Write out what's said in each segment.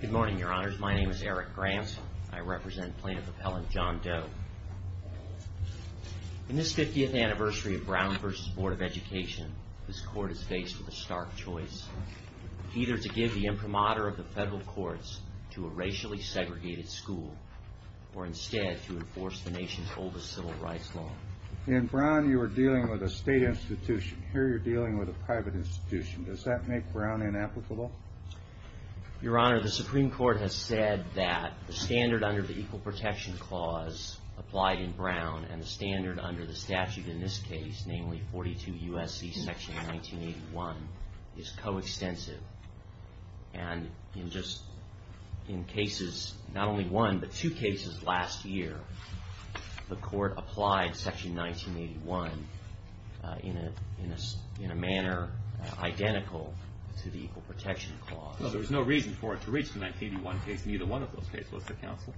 Good morning, Your Honors. My name is Eric Grantz. I represent Plaintiff Appellant John Doe. In this 50th anniversary of Brown v. Board of Education, this Court is faced with a stark choice, either to give the imprimatur of the federal courts to a racially segregated school or instead to enforce the nation's oldest civil rights law. In Brown, you were dealing with a state institution. Here, you're dealing with a private institution. Does that make Brown inapplicable? Your Honor, the Supreme Court has said that the standard under the Equal Protection Clause applied in Brown and the standard under the statute in this case, namely 42 U.S.C. section 1981, is coextensive. And in just, in cases, not only one, but two cases last year, the Court applied section 1981 in a manner identical to the Equal Protection Clause. Well, there's no reason for it to reach the 1981 case in either one of those cases, Mr. Counsel.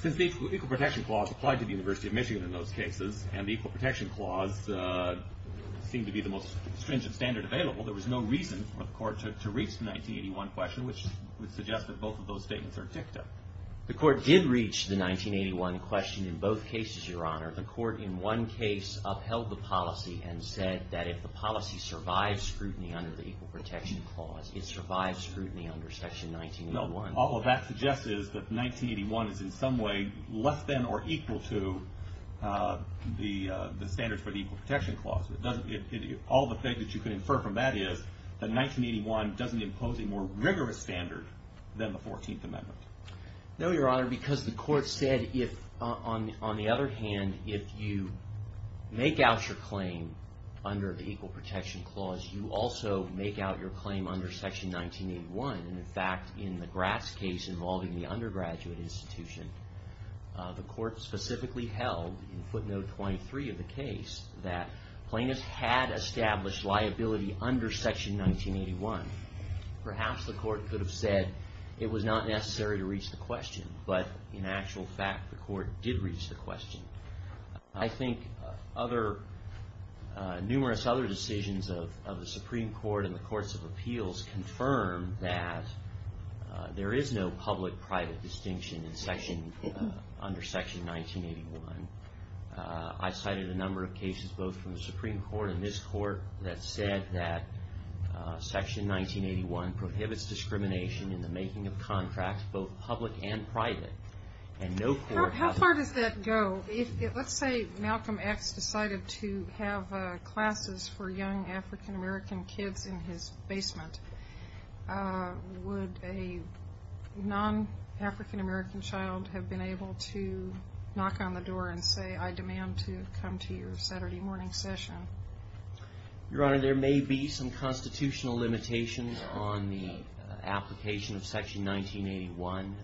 Since the Equal Protection Clause applied to the University of Michigan in those cases and the Equal Protection Clause seemed to be the most stringent standard available, there was no reason for the Court to reach the 1981 question, which would suggest that both of those statements are dicta. The Court did reach the 1981 question in both cases, Your Honor. The Court in one case upheld the policy and said that if the policy survives scrutiny under the Equal Protection Clause, it survives scrutiny under section 1981. No, all of that suggests is that 1981 is in some way less than or equal to the standards for the Equal Protection Clause. It doesn't, all the things that you can infer from that is that 1981 doesn't impose a more rigorous standard than the 14th Amendment. No, Your Honor, because the Court said if, on the other hand, if you make out your claim under the Equal Protection Clause, you also make out your claim under section 1981. And in fact, in the Gratz case involving the undergraduate institution, the Court specifically held in footnote 23 of the case that plaintiffs had established liability under section 1981. Perhaps the Court could have said it was not necessary to reach the question, but in actual fact the Court did reach the question. I think other, numerous other decisions of the Supreme Court and the Courts of Appeals confirm that there is no public-private distinction in section, under section 1981. I cited a clause that section 1981 prohibits discrimination in the making of contracts, both public and private, and no court has... How far does that go? If, let's say Malcolm X decided to have classes for young African American kids in his basement, would a non-African American child have been able to knock on the door and say, I demand to come to your Saturday morning session? Your Honor, there may be some constitutional limitations on the application of section 1981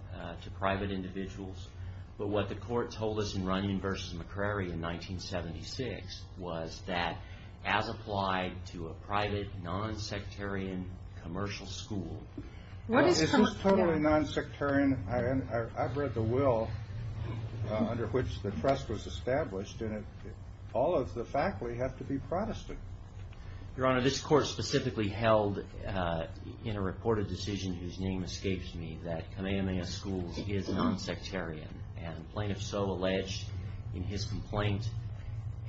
to private individuals, but what the Court told us in Runyon v. McCrary in 1976 was that, as applied to a private, non-sectarian commercial school... If it's totally non-sectarian, I've read the will under which the trust was established in it, all of the faculty have to be Protestant. Your Honor, this Court specifically held in a reported decision whose name escapes me that Kamehameha Schools is non-sectarian, and plaintiffs so alleged in his complaint,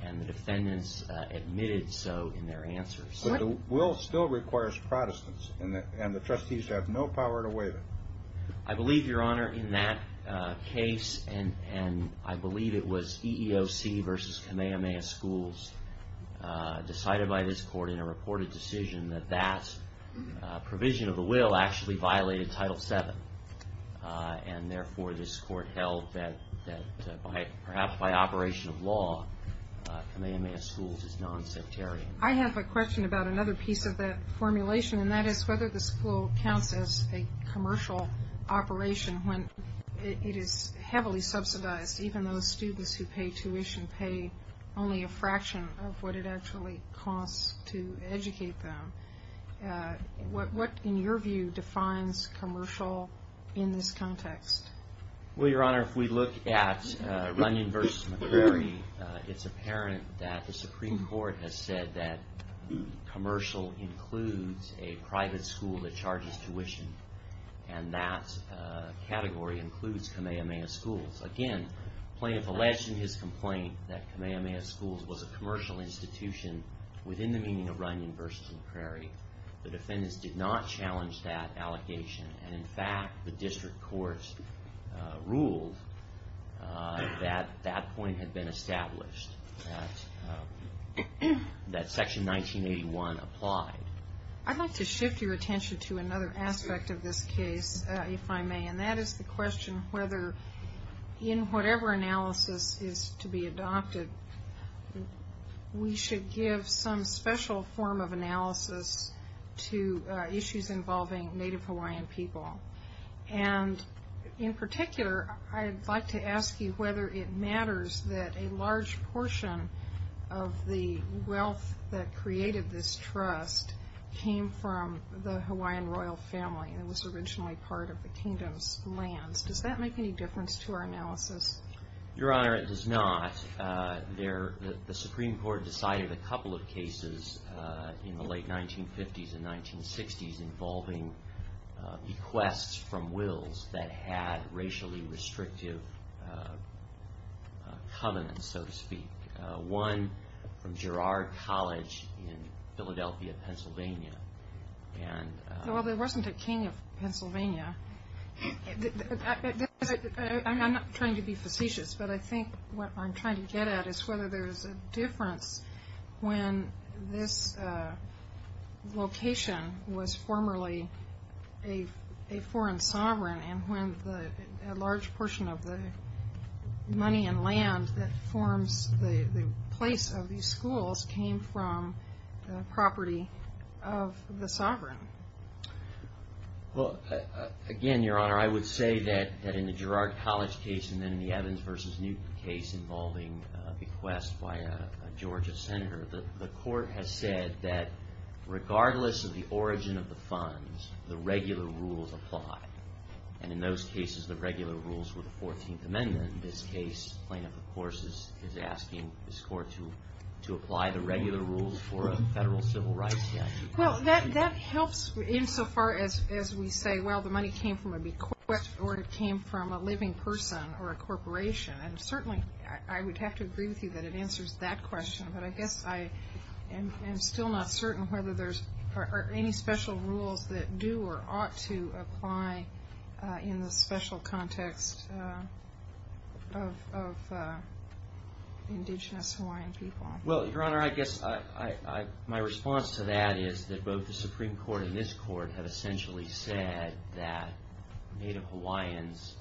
and the defendants admitted so in their answers. But the will still requires Protestants, and the trustees have no power to waive it. I believe, Your Honor, in that case, and I believe it was EEOC v. Kamehameha Schools decided by this Court in a reported decision that that provision of the will actually violated Title VII, and therefore this Court held that perhaps by operation of law, Kamehameha Schools is non-sectarian. I have a question about another piece of that formulation, and that is whether the school counts as a commercial operation when it is heavily subsidized, even though students who pay tuition pay only a fraction of what it actually costs to educate them. What in your view defines commercial in this context? Well, Your Honor, if we look at Runyon v. McCrary, it's apparent that the Supreme Court has said that commercial includes a private school that charges tuition, and that category includes Kamehameha Schools. Again, plaintiffs alleged in his complaint that Kamehameha Schools was a commercial institution within the meaning of Runyon v. McCrary. The defendants did not challenge that allegation, and in fact, the district courts ruled that that point had been established, that Section 1981 applied. I'd like to shift your attention to another aspect of this case, if I may, and that is the question whether in whatever analysis is to be adopted, we should give some special form of analysis to issues involving Native Hawaiian people, and in particular, I'd like to ask you whether it matters that a large portion of the wealth that created this trust came from the Hawaiian royal family, and was originally part of the kingdom's lands. Does that make any difference to our analysis? Your Honor, it does not. The Supreme Court decided a couple of cases in the late 1950s and 1960s involving bequests from wills that had racially restrictive covenants, so to speak. One from Girard College in Philadelphia, Pennsylvania. Well, there wasn't a king of Pennsylvania. I'm not trying to be facetious, but I think what I'm trying to get at is whether there is a difference when this location was formerly a foreign land. A foreign sovereign, and when a large portion of the money and land that forms the place of these schools came from the property of the sovereign. Again Your Honor, I would say that in the Girard College case, and then in the Evans v. Newton case involving a bequest by a Georgia senator, the court has said that regardless of the origin of the funds, the regular rules apply. And in those cases, the regular rules were the 14th Amendment. In this case, plaintiff, of course, is asking this court to apply the regular rules for a federal civil rights statute. Well, that helps insofar as we say, well, the money came from a bequest, or it came from a living person or a corporation. And certainly, I would have to agree with you that it answers that question, but I guess I'm still not certain whether there are any special rules that do or ought to apply in the special context of indigenous Hawaiian people. Well, Your Honor, I guess my response to that is that both the Supreme Court and this court have essentially said that Native Hawaiians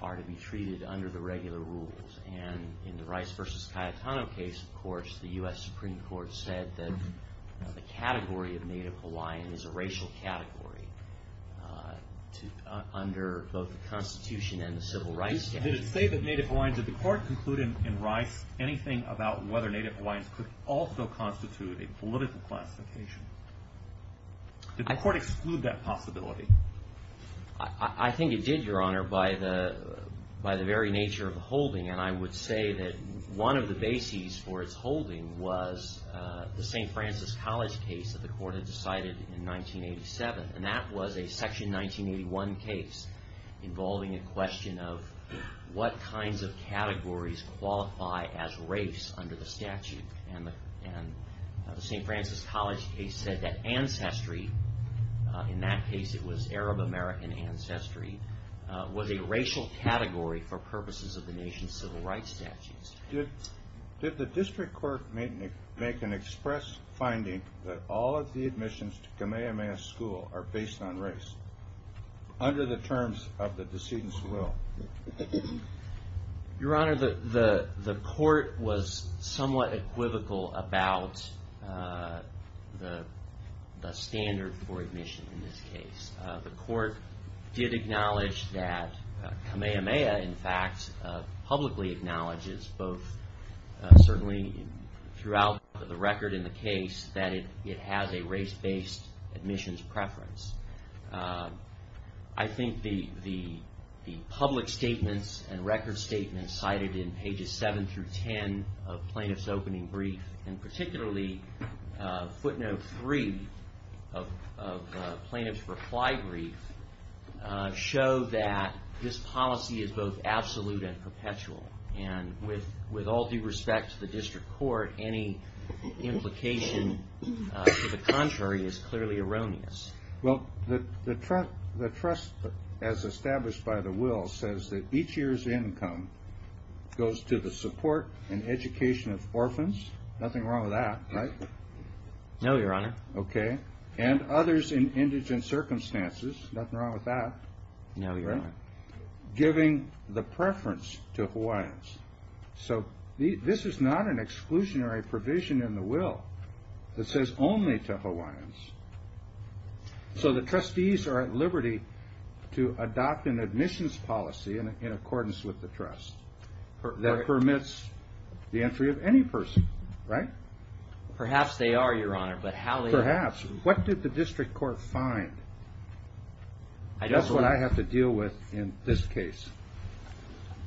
are to be treated under the regular rules. And in the Rice v. Cayetano case, of course, the U.S. Supreme Court said that the category of Native Hawaiian is a racial category under both the Constitution and the Civil Rights Statute. Did it say that Native Hawaiians, did the court conclude in Rice anything about whether Native Hawaiians could also constitute a political classification? Did the court exclude that possibility? I think it did, Your Honor, by the very nature of the holding. And I would say that one of the bases for its holding was the St. Francis College case that the court had decided in 1987, and that was a Section 1981 case involving a question of what kinds of categories qualify as race under the statute. And the St. Francis College case said that ancestry, in that case it was Arab American ancestry, was a racial category for purposes of the nation's Civil Rights Statutes. Did the district court make an express finding that all of the admissions to Kamehameha School are based on race under the terms of the decedent's will? Your Honor, the court was somewhat equivocal about the standard for admission in this case. The court did acknowledge that Kamehameha, in fact, publicly acknowledges, both certainly throughout the record in the case, that it has a race-based admissions preference. I think the public statements and record statements cited in pages 7 through 10 of Plaintiff's opening brief, and particularly footnote 3 of Plaintiff's reply brief, show that this policy is both absolute and perpetual. And with all due respect to the district court, any implication to the contrary is clearly erroneous. Well, the trust as established by the will says that each year's income goes to the support and education of orphans, nothing wrong with that, right? No, Your Honor. Okay. And others in indigent circumstances, nothing wrong with that, right? No, Your Honor. Giving the preference to Hawaiians. So this is not an exclusionary provision in the will that says only to Hawaiians. So the trustees are at liberty to adopt an admissions policy in accordance with the trust that permits the entry of any person, right? Perhaps they are, Your Honor. Perhaps. What did the district court find? That's what I have to deal with in this case.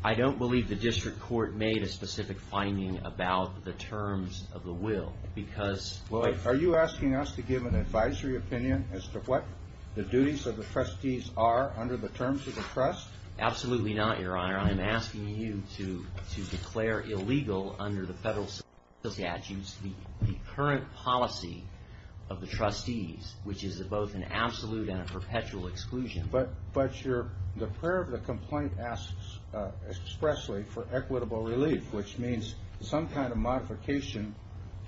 I don't believe the district court made a specific finding about the terms of the will because... Well, are you asking us to give an advisory opinion as to what the duties of the trustees are under the terms of the trust? Absolutely not, Your Honor. I'm asking you to declare illegal under the federal statute the current policy of the trustees, which is both an absolute and a perpetual exclusion. But the prayer of the complaint asks expressly for equitable relief, which means some kind of modification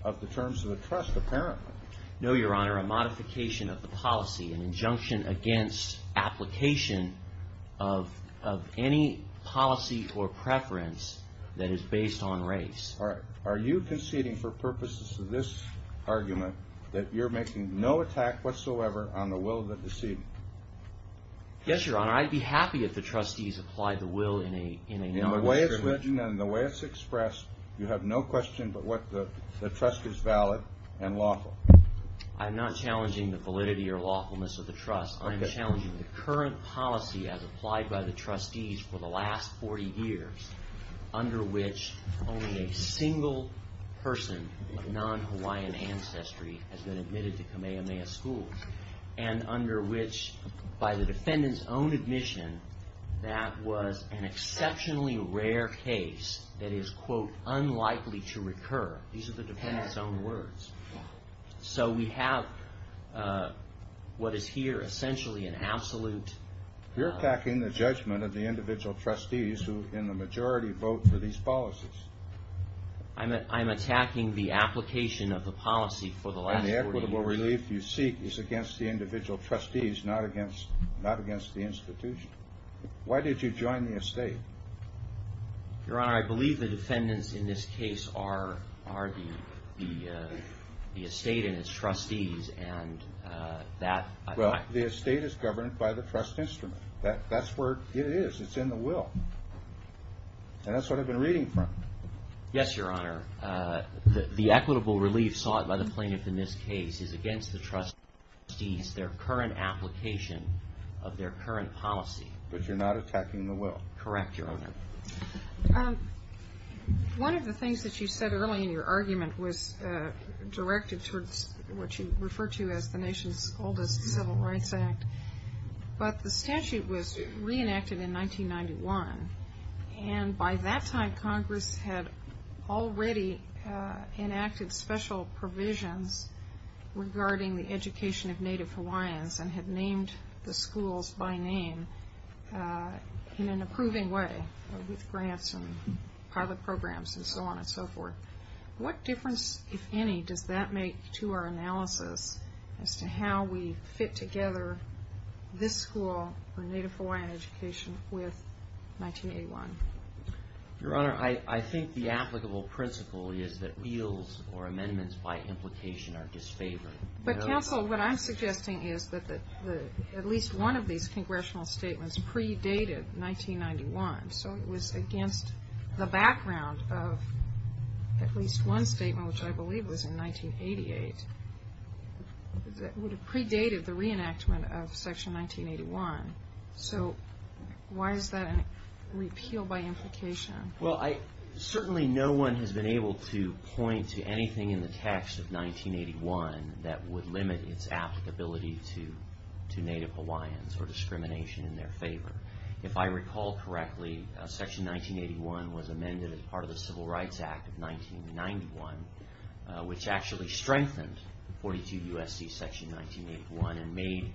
of the terms of the trust apparently. No, Your Honor. A modification of the policy. An injunction against application of any policy or preference that is based on race. All right. Are you conceding for purposes of this argument that you're making no attack whatsoever on the will of the deceived? Yes, Your Honor. I'd be happy if the trustees applied the will in a non-discrimination... In the way it's written and the way it's expressed, you have no question but what the trust is valid and lawful. I'm not challenging the validity or lawfulness of the trust. I'm challenging the current policy as applied by the trustees for the last 40 years under which only a single person of non-Hawaiian ancestry has been admitted to Kamehameha schools and under which, by the defendant's own admission, that was an exceptionally rare case that is, quote, unlikely to recur. These are the defendant's own words. So we have what is here essentially an absolute... You're attacking the judgment of the individual trustees who, in the majority, vote for these policies. I'm attacking the application of the policy for the last 40 years. And the equitable relief you seek is against the individual trustees, not against the institution. Why did you join the estate? Your Honor, I believe the defendants in this case are the estate and its trustees and that... Well, the estate is governed by the trust instrument. That's where it is. It's in the will. And that's what I've been reading from. Yes, Your Honor. The equitable relief sought by the plaintiff in this case is against the trustees, their current application of their current policy. But you're not attacking the will. Correct, Your Honor. One of the things that you said early in your argument was directed towards what you refer to as the nation's oldest civil rights act. But the statute was reenacted in 1991, and by that time Congress had already enacted special provisions regarding the education of Native Hawaiians and had named the schools by name in an approving way with grants and pilot programs and so on and so forth. What difference, if any, does that make to our analysis as to how we fit together this school for Native Hawaiian education with 1981? Your Honor, I think the applicable principle is that bills or amendments by implication are disfavored. But, counsel, what I'm suggesting is that at least one of these congressional statements predated 1991. So it was against the background of at least one statement, which I believe was in 1988, that would have predated the reenactment of Section 1981. So why is that a repeal by implication? Well, certainly no one has been able to point to anything in the text of 1981 that would limit its applicability to Native Hawaiians or discrimination in their favor. If I recall correctly, Section 1981 was amended as part of the Civil Rights Act of 1991, which actually strengthened 42 U.S.C. Section 1981 and made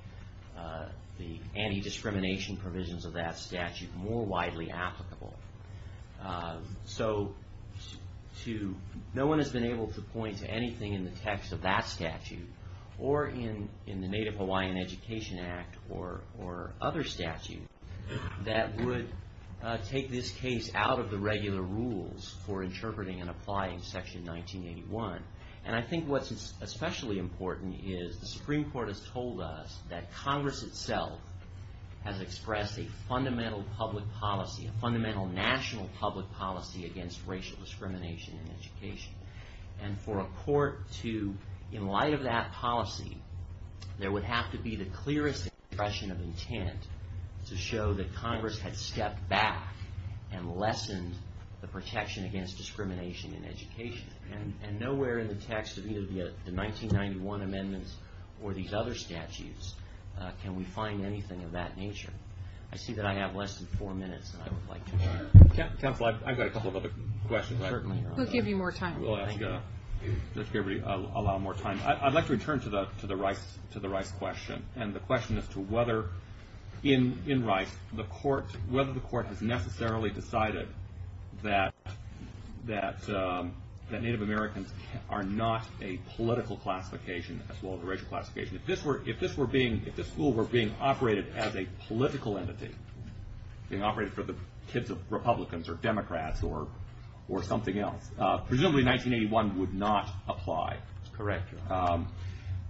the anti-discrimination provisions of that statute more widely applicable. So no one has been able to point to anything in the text of that statute or in the Native Hawaiian Education Act or other statutes that would take this case out of the regular rules for interpreting and applying Section 1981. And I think what's especially important is the Supreme Court has told us that Congress itself has expressed a fundamental public policy, a fundamental national public policy against racial discrimination in education. And for a court to, in light of that policy, there would have to be the clearest expression of intent to show that Congress had stepped back and lessened the protection against discrimination in education. And nowhere in the text of either the 1991 amendments or these other statutes can we find anything of that nature. I see that I have less than four minutes, and I would like to... Counsel, I've got a couple of other questions. We'll give you more time. We'll allow more time. I'd like to return to the Rice question and the question as to whether, in Rice, whether the court has necessarily decided that Native Americans are not a political classification as well as a racial classification. If this were being, if the school were being operated as a political entity, being operated for the kids of Republicans or Democrats or something else, presumably 1981 would not apply. Correct.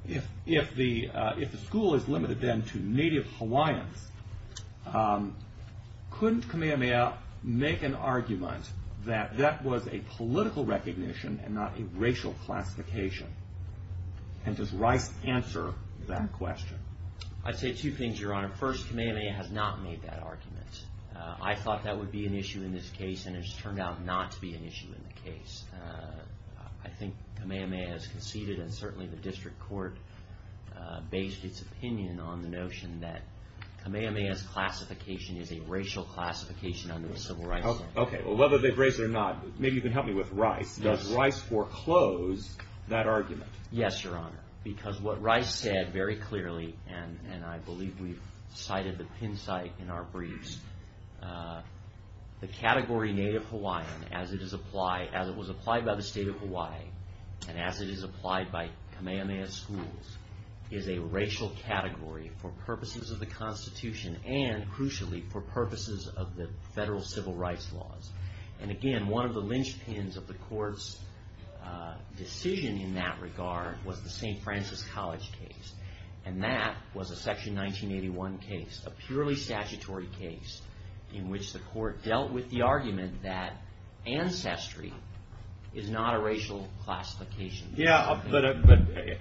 If the school is limited then to Native Hawaiians, couldn't Kamehameha make an argument that that was a political recognition and not a racial classification? And does Rice answer that question? I'd say two things, Your Honor. First, Kamehameha has not made that argument. I thought that would be an issue in this case, and it's turned out not to be an issue in the case. I think Kamehameha has conceded, and certainly the district court based its opinion on the notion that Kamehameha's classification is a racial classification under the Civil Rights Act. Okay, well, whether they've raised it or not, maybe you can help me with Rice. Does Rice foreclose that argument? Yes, Your Honor, because what Rice said very clearly, and I believe we've cited the pin site in our briefs, the category Native Hawaiian as it was applied by the state of Hawaii and as it is applied by Kamehameha schools is a racial category for purposes of the Constitution and, crucially, for purposes of the federal civil rights laws. And, again, one of the linchpins of the court's decision in that regard was the St. Francis College case, and that was a Section 1981 case, a purely statutory case in which the court dealt with the argument that ancestry is not a racial classification. Yeah, but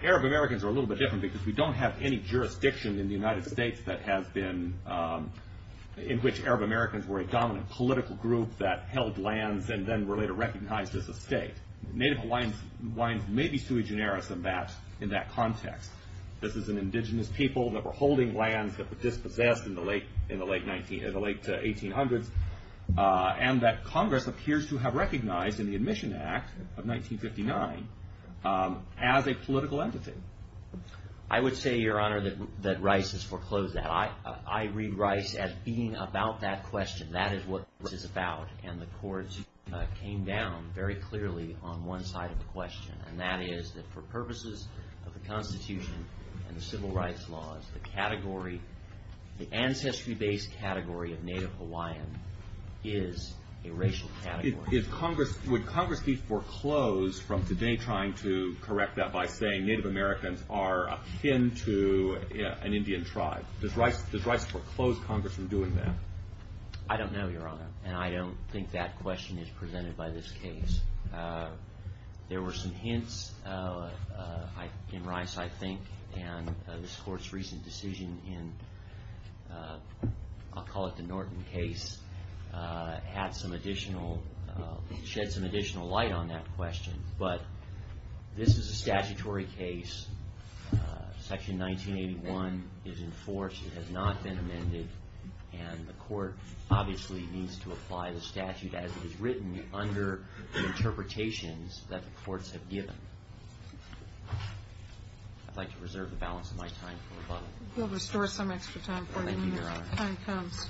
Arab Americans are a little bit different because we don't have any jurisdiction in the United States in which Arab Americans were a dominant political group that held lands and then were later recognized as a state. Native Hawaiians may be sui generis in that context. This is an indigenous people that were holding lands that were dispossessed in the late 1800s, and that Congress appears to have recognized in the Admission Act of 1959 as a political entity. I would say, Your Honor, that Rice has foreclosed that. I read Rice as being about that question. That is what this is about, and the courts came down very clearly on one side of the question, and that is that for purposes of the Constitution and the civil rights laws, the ancestry-based category of Native Hawaiian is a racial category. Would Congress be foreclosed from today trying to correct that by saying Native Americans are akin to an Indian tribe? Does Rice foreclose Congress from doing that? I don't know, Your Honor, and I don't think that question is presented by this case. There were some hints in Rice, I think, and this Court's recent decision in, I'll call it the Norton case, shed some additional light on that question, but this is a statutory case. Section 1981 is enforced. It has not been amended, and the Court obviously needs to apply the statute as it is written under the interpretations that the courts have given. I'd like to reserve the balance of my time for rebuttal. We'll restore some extra time for you when the time comes.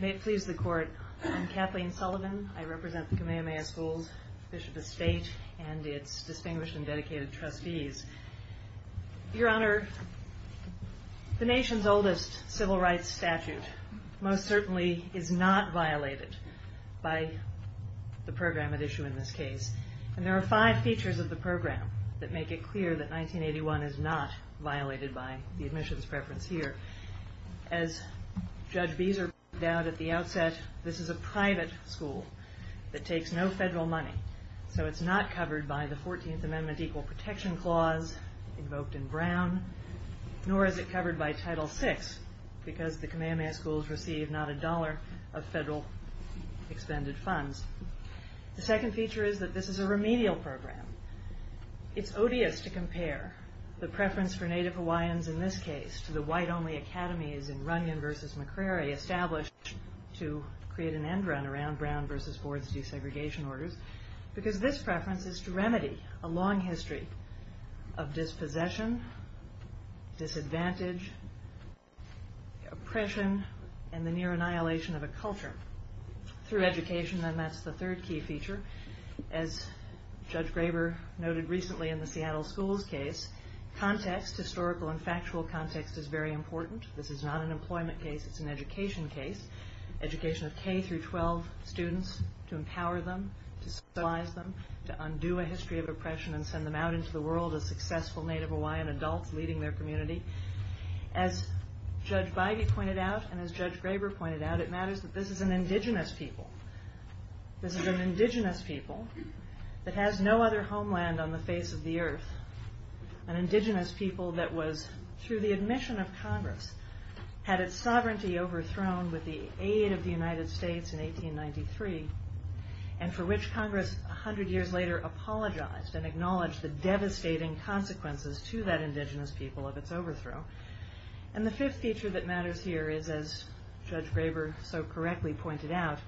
May it please the Court. I'm Kathleen Sullivan. I represent the Kamehameha Schools, Bishop Estate, and its distinguished and dedicated trustees. Your Honor, the nation's oldest civil rights statute most certainly is not violated by the program at issue in this case, and there are five features of the program that make it clear that 1981 is not violated by the admissions preference here. As Judge Beeser pointed out at the outset, this is a private school that takes no federal money, so it's not covered by the 14th Amendment Equal Protection Clause invoked in Brown, nor is it covered by Title VI because the Kamehameha Schools receive not a dollar of federal expended funds. The second feature is that this is a remedial program. It's odious to compare the preference for Native Hawaiians in this case to the white-only academies in Runyon v. McCrary established to create an end run around Brown v. Ford's desegregation orders because this preference is to remedy a long history of dispossession, disadvantage, oppression, and the near annihilation of a culture through education, and that's the third key feature. As Judge Graber noted recently in the Seattle Schools case, context, historical and factual context, is very important. This is not an employment case. It's an education case. Education of K-12 students to empower them, to socialize them, to undo a history of oppression and send them out into the world as successful Native Hawaiian adults leading their community. As Judge Beige pointed out and as Judge Graber pointed out, it matters that this is an indigenous people. This is an indigenous people that has no other homeland on the face of the earth, an indigenous people that was, through the admission of Congress, had its sovereignty overthrown with the aid of the United States in 1893, and for which Congress 100 years later apologized and acknowledged the devastating consequences to that indigenous people of its overthrow. And the fifth feature that matters here is, as Judge Graber so correctly pointed out,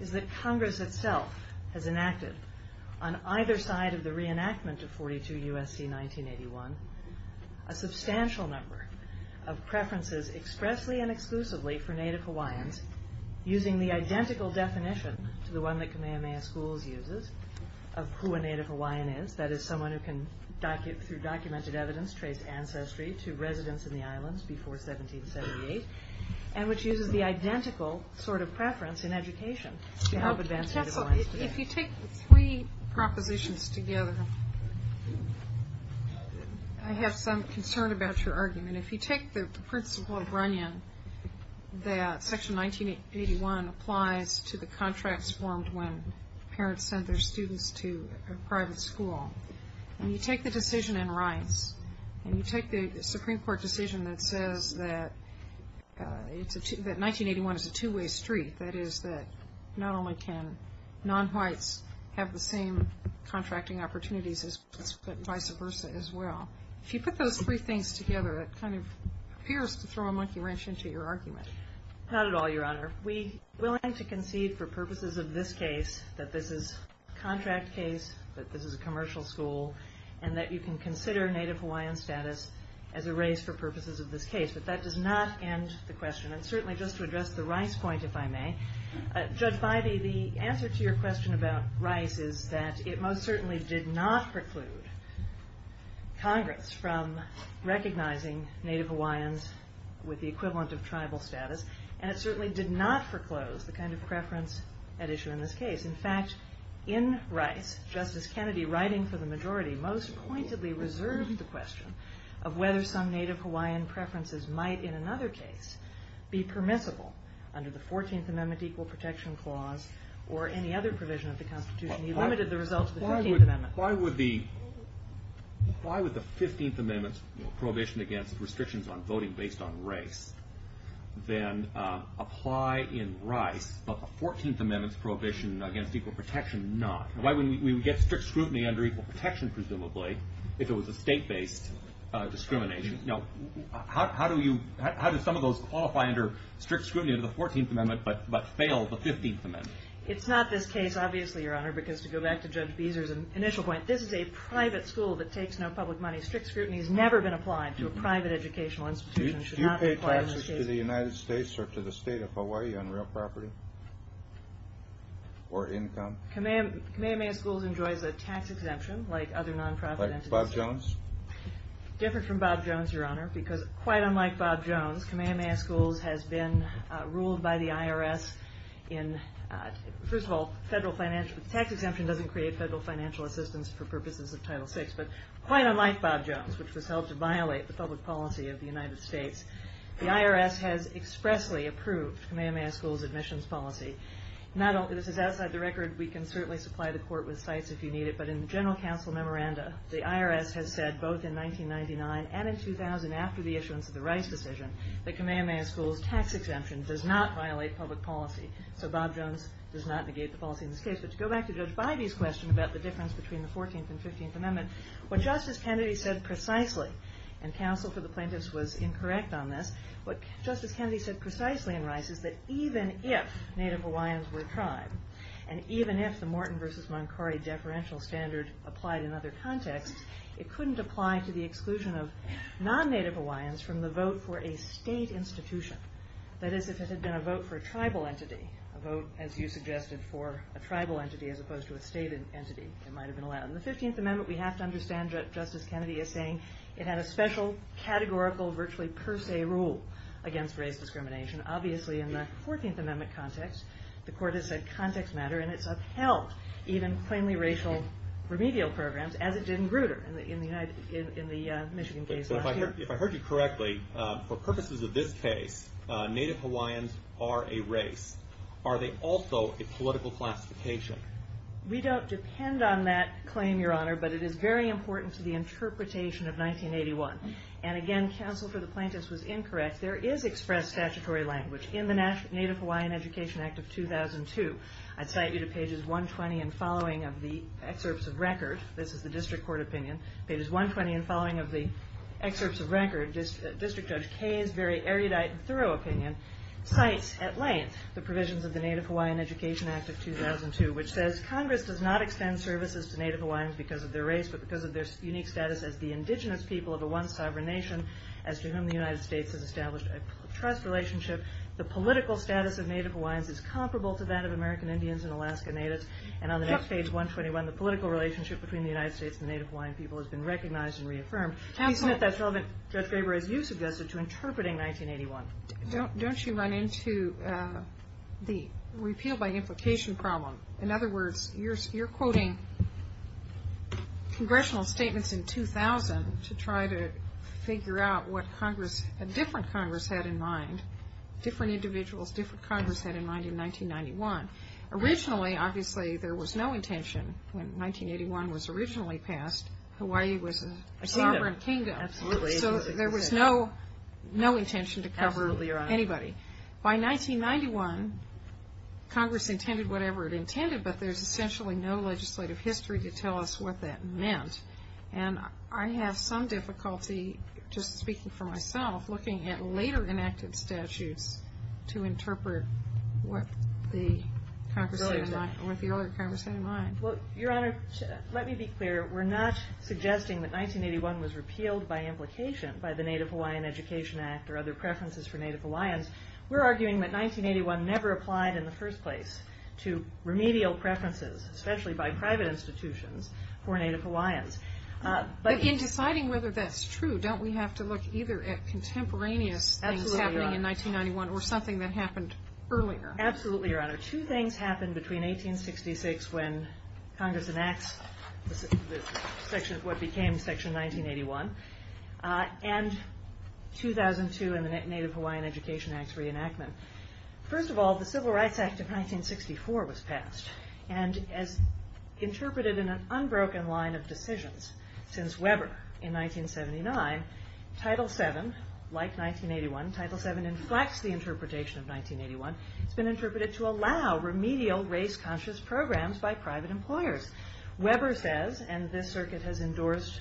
is that Congress itself has enacted, on either side of the reenactment of 42 U.S.C. 1981, a substantial number of preferences expressly and exclusively for Native Hawaiians using the identical definition to the one that Kamehameha Schools uses of who a Native Hawaiian is, that is someone who can, through documented evidence, trace ancestry to residence in the islands before 1778, and which uses the identical sort of preference in education to help advance Native Hawaiians today. If you take three propositions together, I have some concern about your argument. If you take the principle of Runyon that Section 1981 applies to the contracts formed when parents send their students to a private school, and you take the decision in rights, and you take the Supreme Court decision that says that 1981 is a two-way street, that is that not only can non-whites have the same contracting opportunities, but vice versa as well. If you put those three things together, it kind of appears to throw a monkey wrench into your argument. Not at all, Your Honor. We, willing to concede for purposes of this case, that this is a contract case, that this is a commercial school, and that you can consider Native Hawaiian status as a race for purposes of this case. But that does not end the question. And certainly just to address the Rice point, if I may, Judge Bybee, the answer to your question about Rice is that it most certainly did not preclude Congress from recognizing Native Hawaiians with the equivalent of tribal status, and it certainly did not foreclose the kind of preference at issue in this case. In fact, in Rice, Justice Kennedy, writing for the majority, most pointedly reserved the question of whether some Native Hawaiian preferences might in another case be permissible under the 14th Amendment Equal Protection Clause or any other provision of the Constitution. He limited the result to the 15th Amendment. Why would the 15th Amendment's prohibition against restrictions on voting based on race then apply in Rice, but the 14th Amendment's prohibition against equal protection, not? Why wouldn't we get strict scrutiny under equal protection, presumably, if it was a state-based discrimination? Now, how do some of those qualify under strict scrutiny under the 14th Amendment but fail the 15th Amendment? It's not this case, obviously, Your Honor, because to go back to Judge Beezer's initial point, this is a private school that takes no public money. Strict scrutiny has never been applied to a private educational institution. Do you pay taxes to the United States or to the state of Hawaii on real property or income? Kamehameha Schools enjoys a tax exemption like other non-profit entities. Like Bob Jones? Different from Bob Jones, Your Honor, because quite unlike Bob Jones, Kamehameha Schools has been ruled by the IRS in, first of all, the tax exemption doesn't create federal financial assistance for purposes of Title VI, but quite unlike Bob Jones, which was held to violate the public policy of the United States, the IRS has expressly approved Kamehameha Schools' admissions policy. Now, this is outside the record. We can certainly supply the Court with cites if you need it, but in the General Counsel memoranda, the IRS has said both in 1999 and in 2000 after the issuance of the Rice decision that Kamehameha Schools' tax exemption does not violate public policy, so Bob Jones does not negate the policy in this case. But to go back to Judge Bybee's question about the difference between the 14th and 15th Amendment, what Justice Kennedy said precisely, and counsel for the plaintiffs was incorrect on this, what Justice Kennedy said precisely in Rice is that even if Native Hawaiians were a tribe and even if the Morton v. Moncari deferential standard applied in other contexts, it couldn't apply to the exclusion of non-Native Hawaiians from the vote for a state institution. That is, if it had been a vote for a tribal entity, a vote, as you suggested, for a tribal entity as opposed to a state entity, it might have been allowed. In the 15th Amendment, we have to understand what Justice Kennedy is saying. It had a special categorical virtually per se rule against race discrimination. Obviously, in the 14th Amendment context, the Court has said context matter, and it's upheld even plainly racial remedial programs as it did in Grutter in the Michigan case last year. If I heard you correctly, for purposes of this case, Native Hawaiians are a race. Are they also a political classification? We don't depend on that claim, Your Honor, but it is very important to the interpretation of 1981. And again, counsel for the plaintiffs was incorrect. There is expressed statutory language in the Native Hawaiian Education Act of 2002. I'd cite you to pages 120 and following of the excerpts of record. This is the district court opinion. Pages 120 and following of the excerpts of record, District Judge Kaye's very erudite and thorough opinion cites at length the provisions of the Native Hawaiian Education Act of 2002, which says Congress does not extend services to Native Hawaiians because of their race, but because of their unique status as the indigenous people of a once sovereign nation as to whom the United States has established a trust relationship. The political status of Native Hawaiians is comparable to that of American Indians and Alaska Natives. And on the next page, 121, the political relationship between the United States and the Native Hawaiian people has been recognized and reaffirmed. Please note that's relevant, Judge Graber, as you suggested, to interpreting 1981. Don't you run into the repeal by implication problem? In other words, you're quoting congressional statements in 2000 to try to figure out what Congress, a different Congress had in mind, different individuals, different Congress had in mind in 1991. Originally, obviously, there was no intention when 1981 was originally passed, Hawaii was a sovereign kingdom. So there was no intention to cover anybody. By 1991, Congress intended whatever it intended, but there's essentially no legislative history to tell us what that meant. And I have some difficulty, just speaking for myself, looking at later enacted statutes to interpret what the other Congress had in mind. Well, Your Honor, let me be clear. We're not suggesting that 1981 was repealed by implication by the Native Hawaiian Education Act or other preferences for Native Hawaiians. We're arguing that 1981 never applied in the first place to remedial preferences, especially by private institutions for Native Hawaiians. But in deciding whether that's true, don't we have to look either at contemporaneous things happening in 1991 or something that happened earlier? Absolutely, Your Honor. Two things happened between 1866 when Congress enacts what became Section 1981 and 2002 and the Native Hawaiian Education Act's reenactment. First of all, the Civil Rights Act of 1964 was passed. And as interpreted in an unbroken line of decisions since Weber in 1979, Title VII, like 1981, Title VII inflects the interpretation of 1981. It's been interpreted to allow remedial race-conscious programs by private employers. Weber says, and this circuit has endorsed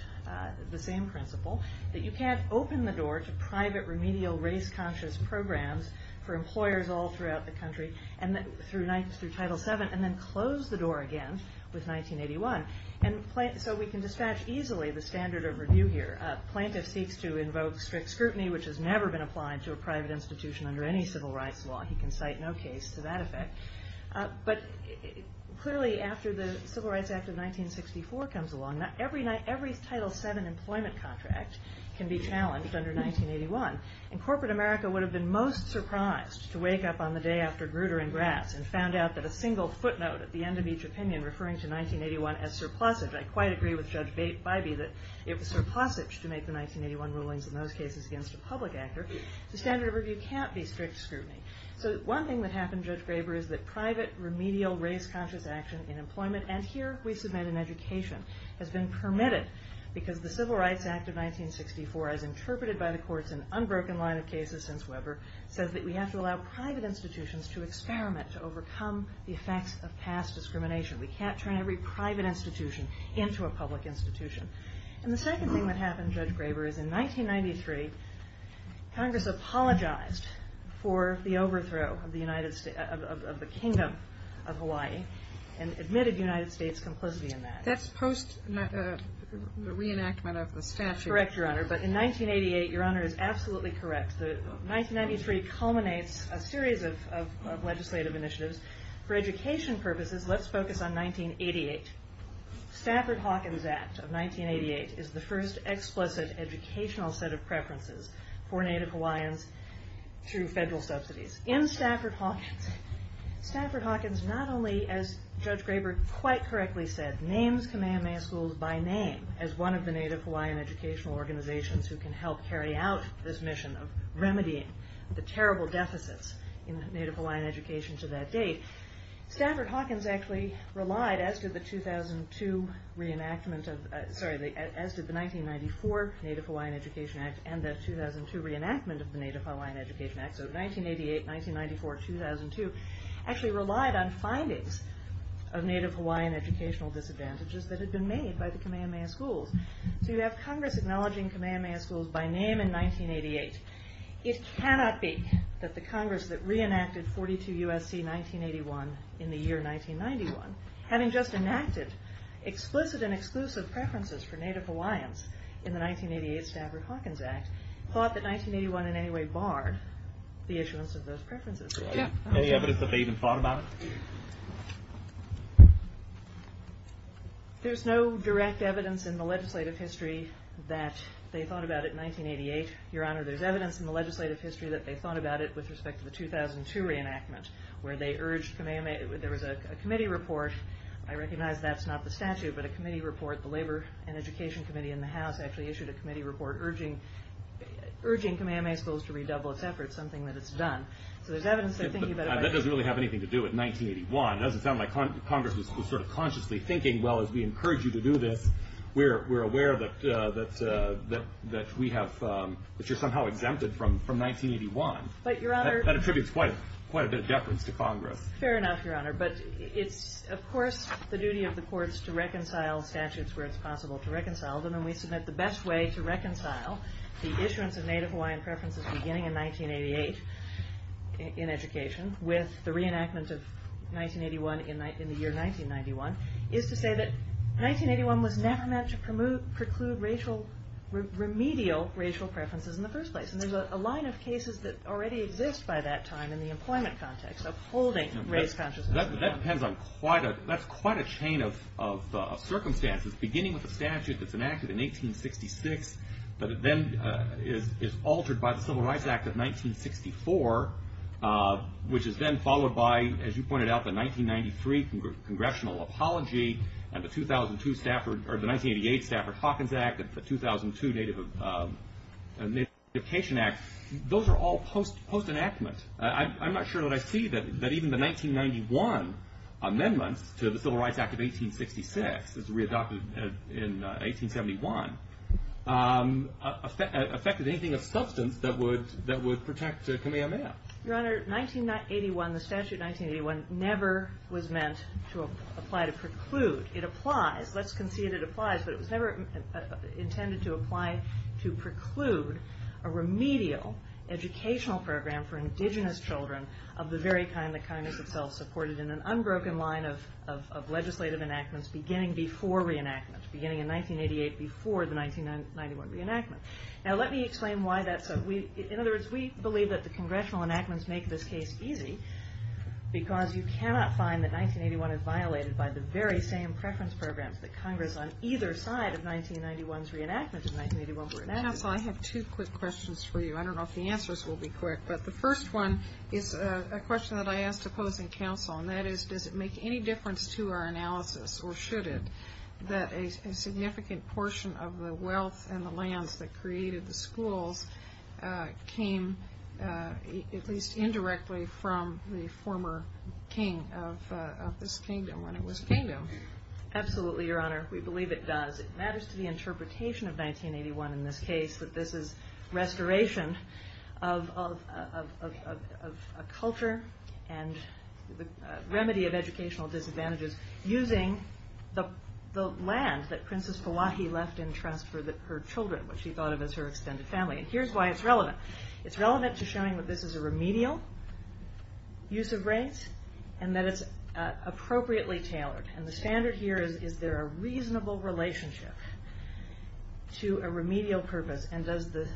the same principle, that you can't open the door to private remedial race-conscious programs for employers all throughout the country through Title VII and then close the door again with 1981. And so we can dispatch easily the standard of review here. A plaintiff seeks to invoke strict scrutiny, which has never been applied to a private institution under any civil rights law. He can cite no case to that effect. But clearly after the Civil Rights Act of 1964 comes along, every Title VII employment contract can be challenged under 1981. And corporate America would have been most surprised to wake up on the day after Grutter and Grass and found out that a single footnote at the end of each opinion referring to 1981 as surplusage. I quite agree with Judge Bybee that it was surplusage to make the 1981 rulings in those cases against a public actor. The standard of review can't be strict scrutiny. So one thing that happened, Judge Graber, is that private remedial race-conscious action in employment, and here we submit an education, has been permitted because the Civil Rights Act of 1964, as interpreted by the courts in an unbroken line of cases since Weber, says that we have to allow private institutions to experiment, to overcome the effects of past discrimination. We can't turn every private institution into a public institution. And the second thing that happened, Judge Graber, is in 1993 Congress apologized for the overthrow of the Kingdom of Hawaii and admitted United States complicity in that. That's post-reenactment of the statute. Correct, Your Honor. But in 1988, Your Honor, is absolutely correct. 1993 culminates a series of legislative initiatives. For education purposes, let's focus on 1988. Stafford-Hawkins Act of 1988 is the first explicit educational set of preferences for Native Hawaiians through federal subsidies. In Stafford-Hawkins, Stafford-Hawkins not only, as Judge Graber quite correctly said, names Kamehameha Schools by name as one of the Native Hawaiian educational organizations who can help carry out this mission of remedying the terrible deficits in Native Hawaiian education to that date. Stafford-Hawkins actually relied, as did the 1994 Native Hawaiian Education Act and the 2002 reenactment of the Native Hawaiian Education Act, so 1988, 1994, 2002, actually relied on findings of Native Hawaiian educational disadvantages that had been made by the Kamehameha Schools. So you have Congress acknowledging Kamehameha Schools by name in 1988. It cannot be that the Congress that reenacted 42 U.S.C. 1981 in the year 1991, having just enacted explicit and exclusive preferences for Native Hawaiians in the 1988 Stafford-Hawkins Act, thought that 1981 in any way barred the issuance of those preferences. Any evidence that they even thought about it? There's no direct evidence in the legislative history that they thought about it in 1988. Your Honor, there's evidence in the legislative history that they thought about it with respect to the 2002 reenactment where there was a committee report. I recognize that's not the statute, but a committee report. The Labor and Education Committee in the House actually issued a committee report urging Kamehameha Schools to redouble its efforts, something that it's done. That doesn't really have anything to do with 1981. It doesn't sound like Congress was sort of consciously thinking, well, as we encourage you to do this, we're aware that you're somehow exempted from 1981. That attributes quite a bit of deference to Congress. Fair enough, Your Honor. But it's, of course, the duty of the courts to reconcile statutes where it's possible to reconcile them, and we submit the best way to reconcile the issuance of Native Hawaiian preferences beginning in 1988 in education with the reenactment of 1981 in the year 1991, is to say that 1981 was never meant to preclude remedial racial preferences in the first place. And there's a line of cases that already exist by that time in the employment context of holding race consciousness. That's quite a chain of circumstances, beginning with a statute that's enacted in 1866, but it then is altered by the Civil Rights Act of 1964, which is then followed by, as you pointed out, the 1993 Congressional Apology, and the 1988 Stafford-Hawkins Act, and the 2002 Native Education Act. Those are all post-enactment. I'm not sure that I see that even the 1991 amendments to the Civil Rights Act of 1866 as readopted in 1871, affected anything of substance that would protect Kamehameha. Your Honor, 1981, the statute 1981, never was meant to apply to preclude. It applies, let's concede it applies, but it was never intended to apply to preclude a remedial educational program for indigenous children of the very kind that Congress itself supported in an unbroken line of legislative enactments beginning before reenactment, beginning in 1988 before the 1991 reenactment. Now let me explain why that's so. In other words, we believe that the Congressional enactments make this case easy, because you cannot find that 1981 is violated by the very same preference programs that Congress on either side of 1991's reenactment of 1981 reenacted. Counsel, I have two quick questions for you. I don't know if the answers will be quick, but the first one is a question that I asked opposing counsel, and that is, does it make any difference to our analysis, or should it, that a significant portion of the wealth and the lands that created the schools came at least indirectly from the former king of this kingdom when it was kingdom? Absolutely, Your Honor, we believe it does. It matters to the interpretation of 1981 in this case that this is restoration of a culture and remedy of educational disadvantages using the land that Princess Pawahi left in trust for her children, which she thought of as her extended family. And here's why it's relevant. It's relevant to showing that this is a remedial use of rates and that it's appropriately tailored. And the standard here is, is there a reasonable relationship to a remedial purpose? And does the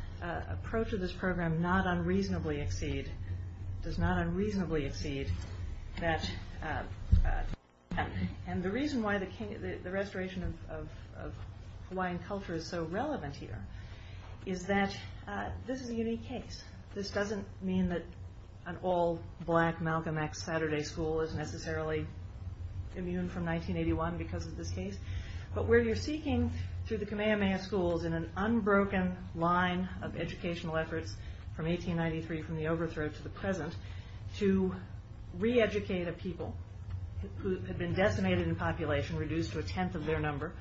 approach of this program not unreasonably exceed, does not unreasonably exceed that? And the reason why the restoration of Hawaiian culture is so relevant here is that this is a unique case. This doesn't mean that an all-black Malcolm X Saturday school is necessarily immune from 1981 because of this case. But where you're seeking through the Kamehameha schools in an unbroken line of educational efforts from 1893 from the overthrow to the present to reeducate a people who had been decimated in population, reduced to a tenth of their number,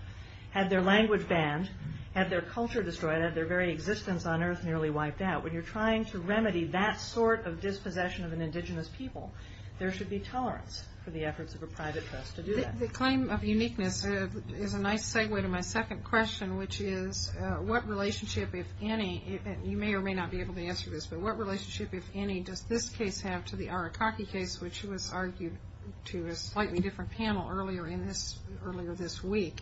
had their language banned, had their culture destroyed, had their very existence on earth nearly wiped out. When you're trying to remedy that sort of dispossession of an indigenous people, there should be tolerance for the efforts of a private trust to do that. The claim of uniqueness is a nice segue to my second question, which is what relationship, if any, you may or may not be able to answer this, but what relationship, if any, does this case have to the Arakaki case, which was argued to a slightly different panel earlier this week?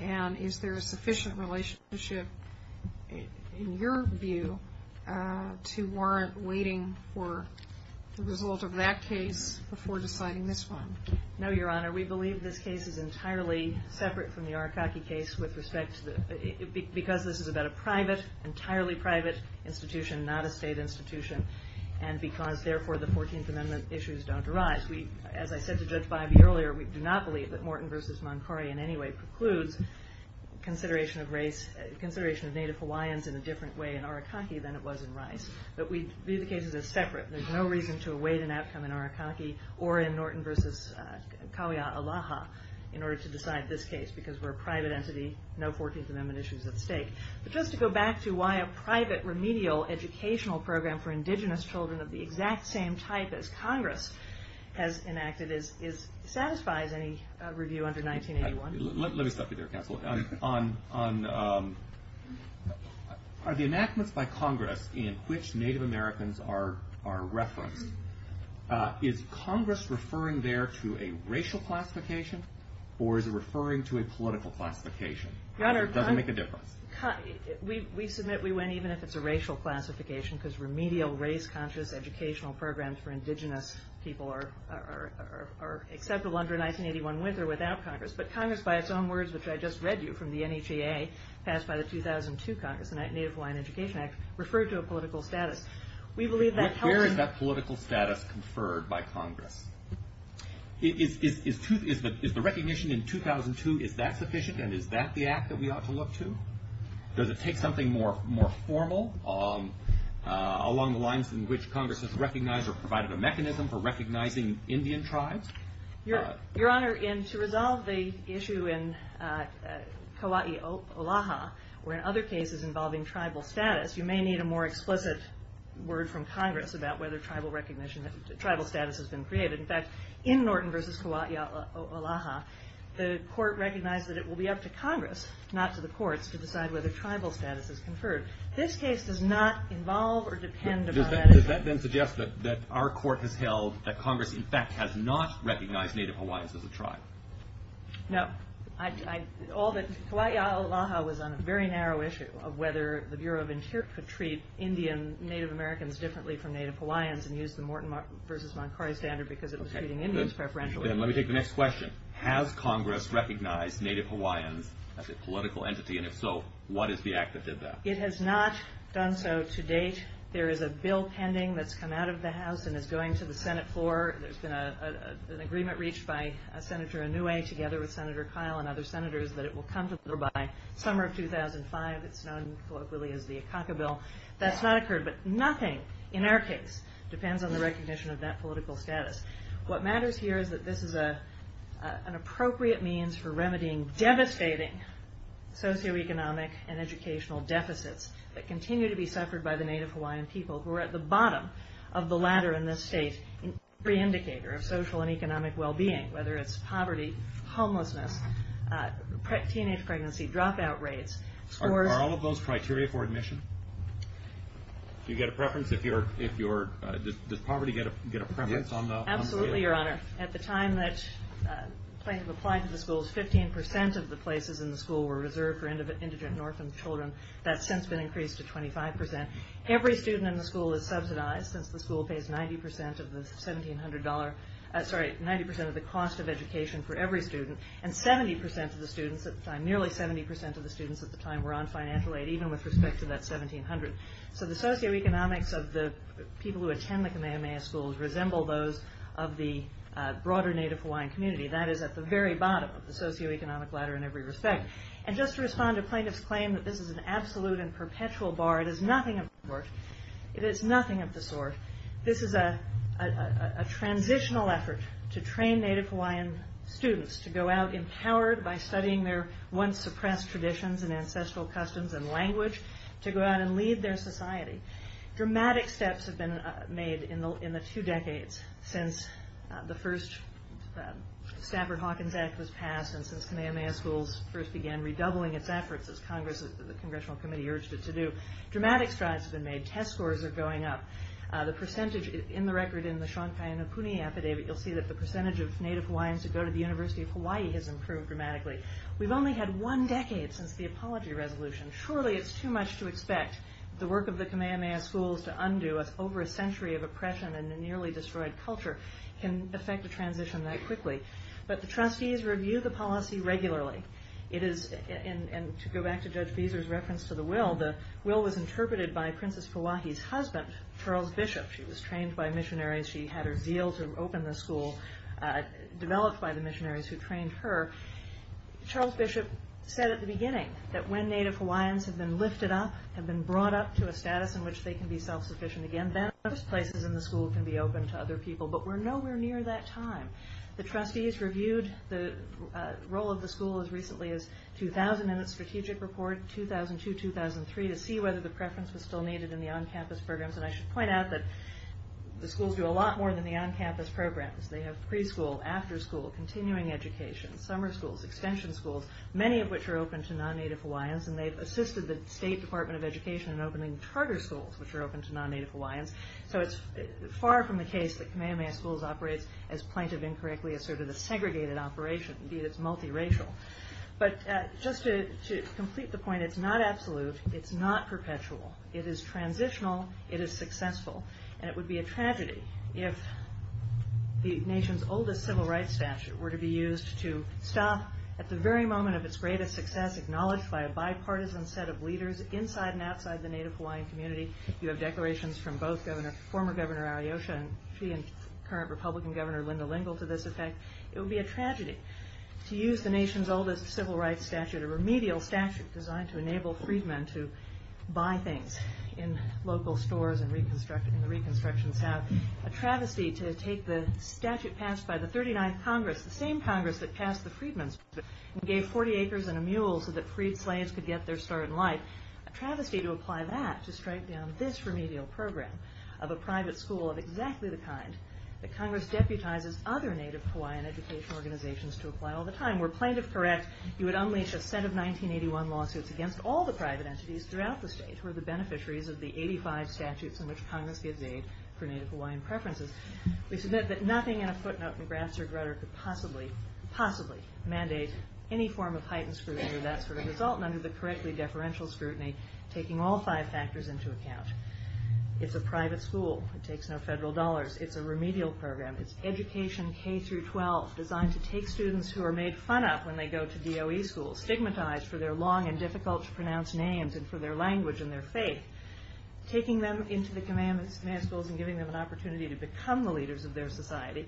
And is there a sufficient relationship, in your view, to warrant waiting for the result of that case before deciding this one? No, Your Honor. We believe this case is entirely separate from the Arakaki case because this is about an entirely private institution, not a state institution, and because, therefore, the Fourteenth Amendment issues don't arise. As I said to Judge Bybee earlier, we do not believe that Norton v. Moncori in any way precludes consideration of race, consideration of Native Hawaiians in a different way in Arakaki than it was in Rice. But we view the cases as separate. There's no reason to await an outcome in Arakaki or in Norton v. Kauia-Alaha in order to decide this case because we're a private entity, no Fourteenth Amendment issues at stake. But just to go back to why a private remedial educational program for indigenous children of the exact same type as Congress has enacted satisfies any review under 1981. Let me stop you there, Counsel. Are the enactments by Congress in which Native Americans are referenced, is Congress referring there to a racial classification or is it referring to a political classification? It doesn't make a difference. We submit we went even if it's a racial classification because remedial race-conscious educational programs for indigenous people are acceptable under 1981 with or without Congress. But Congress, by its own words, which I just read to you from the NHEA, passed by the 2002 Congress, the Native Hawaiian Education Act, referred to a political status. Where is that political status conferred by Congress? Is the recognition in 2002, is that sufficient and is that the act that we ought to look to? Does it take something more formal along the lines in which Congress has recognized or provided a mechanism for recognizing Indian tribes? Your Honor, to resolve the issue in Kauia-Alaha or in other cases involving tribal status, you may need a more explicit word from Congress about whether tribal status has been created. In fact, in Norton v. Kauia-Alaha, the court recognized that it will be up to Congress, not to the courts, to decide whether tribal status is conferred. This case does not involve or depend upon that. Does that then suggest that our court has held that Congress, in fact, has not recognized Native Hawaiians as a tribe? No. Kauia-Alaha was on a very narrow issue of whether the Bureau of Interior could treat Indian Native Americans differently from Native Hawaiians and use the Norton v. Moncari standard because it was treating Indians preferentially. Then let me take the next question. Has Congress recognized Native Hawaiians as a political entity? And if so, what is the act that did that? It has not done so to date. There is a bill pending that's come out of the House and is going to the Senate floor. There's been an agreement reached by Senator Inouye together with Senator Kyle and other Senators that it will come to the floor by summer of 2005. It's known colloquially as the Akaka Bill. That's not occurred, but nothing in our case depends on the recognition of that political status. What matters here is that this is an appropriate means for remedying devastating socioeconomic and educational deficits that continue to be suffered by the Native Hawaiian people who are at the bottom of the ladder in this state in every indicator of social and economic well-being, whether it's poverty, homelessness, teenage pregnancy, dropout rates. Are all of those criteria for admission? Do you get a preference? Does poverty get a preference on the scale? Absolutely, Your Honor. At the time that plaintiffs applied to the schools, 15% of the places in the school were reserved for indigent and orphaned children. That's since been increased to 25%. Every student in the school is subsidized since the school pays 90% of the cost of education for every student, and nearly 70% of the students at the time were on financial aid, even with respect to that 1,700. So the socioeconomics of the people who attend the Kamehameha schools resemble those of the broader Native Hawaiian community. That is at the very bottom of the socioeconomic ladder in every respect. And just to respond to plaintiffs' claim that this is an absolute and perpetual bar, it is nothing of the sort. This is a transitional effort to train Native Hawaiian students to go out, empowered by studying their once-suppressed traditions and ancestral customs and language, to go out and lead their society. Dramatic steps have been made in the two decades since the first Stafford-Hawkins Act was passed and since Kamehameha schools first began redoubling its efforts, as the Congressional Committee urged it to do. Dramatic strides have been made. Test scores are going up. The percentage in the record in the Shonkai and Opuni Epidemic, you'll see that the percentage of Native Hawaiians who go to the University of Hawaii has improved dramatically. We've only had one decade since the apology resolution. Surely it's too much to expect the work of the Kamehameha schools to undo as over a century of oppression and a nearly destroyed culture can affect a transition that quickly. But the trustees review the policy regularly. And to go back to Judge Beezer's reference to the will, the will was interpreted by Princess Kauahi's husband, Charles Bishop. She was trained by missionaries. She had her zeal to open the school, developed by the missionaries who trained her. Charles Bishop said at the beginning that when Native Hawaiians have been lifted up, have been brought up to a status in which they can be self-sufficient again, then those places in the school can be open to other people. But we're nowhere near that time. The trustees reviewed the role of the school as recently as 2000 in its strategic report, 2002-2003, to see whether the preference was still needed in the on-campus programs. And I should point out that the schools do a lot more than the on-campus programs. They have preschool, afterschool, continuing education, summer schools, extension schools, many of which are open to non-Native Hawaiians. And they've assisted the State Department of Education in opening charter schools, which are open to non-Native Hawaiians. So it's far from the case that Kamehameha Schools operates as plaintive, incorrectly asserted a segregated operation. Indeed, it's multiracial. But just to complete the point, it's not absolute, it's not perpetual. It is transitional, it is successful, and it would be a tragedy if the nation's oldest civil rights statute were to be used to stop, at the very moment of its greatest success, acknowledged by a bipartisan set of leaders inside and outside the Native Hawaiian community. You have declarations from both former Governor Ariyosha and current Republican Governor Linda Lingle to this effect. It would be a tragedy. To use the nation's oldest civil rights statute, a remedial statute designed to enable freedmen to buy things in local stores and in the reconstruction south, a travesty to take the statute passed by the 39th Congress, the same Congress that passed the Freedmen's Bill, and gave 40 acres and a mule so that freed slaves could get their start in life, a travesty to apply that to strike down this remedial program of a private school of exactly the kind that Congress deputizes other Native Hawaiian educational organizations to apply all the time. Were plaintiff correct, you would unleash a set of 1981 lawsuits against all the private entities throughout the state who are the beneficiaries of the 85 statutes in which Congress gives aid for Native Hawaiian preferences. We submit that nothing in a footnote in grassroot rhetoric could possibly, possibly mandate any form of heightened scrutiny of that sort of result, none of the correctly deferential scrutiny taking all five factors into account. It's a private school. It takes no federal dollars. It's a remedial program. It's education K-12 designed to take students who are made fun of when they go to DOE schools, stigmatized for their long and difficult to pronounce names and for their language and their faith, taking them into the command schools and giving them an opportunity to become the leaders of their society.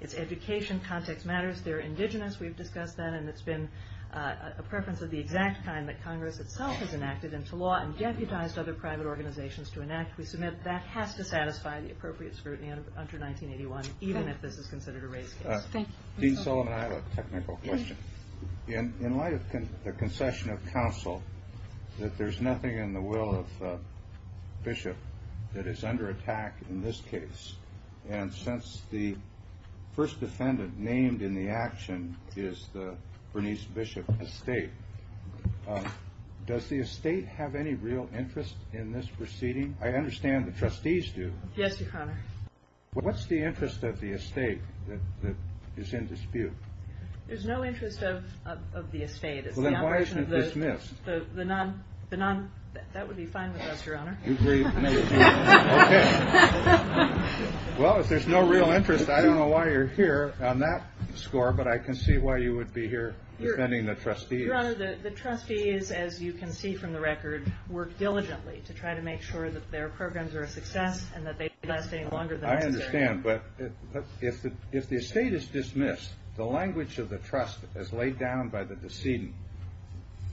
It's education, context matters. They're indigenous. We've discussed that, and it's been a preference of the exact kind that Congress itself has enacted into law and deputized other private organizations to enact. We submit that has to satisfy the appropriate scrutiny under 1981, even if this is considered a race case. Thank you. Dean Sullivan, I have a technical question. In light of the concession of counsel, that there's nothing in the will of Bishop that is under attack in this case, and since the first defendant named in the action is the Bernice Bishop estate, does the estate have any real interest in this proceeding? I understand the trustees do. Yes, Your Honor. What's the interest of the estate that is in dispute? There's no interest of the estate. Well, then why isn't it dismissed? That would be fine with us, Your Honor. Okay. Well, if there's no real interest, I don't know why you're here on that score, but I can see why you would be here defending the trustees. Your Honor, the trustees, as you can see from the record, work diligently to try to make sure that their programs are a success and that they last any longer than necessary. I understand, but if the estate is dismissed, the language of the trust as laid down by the decedent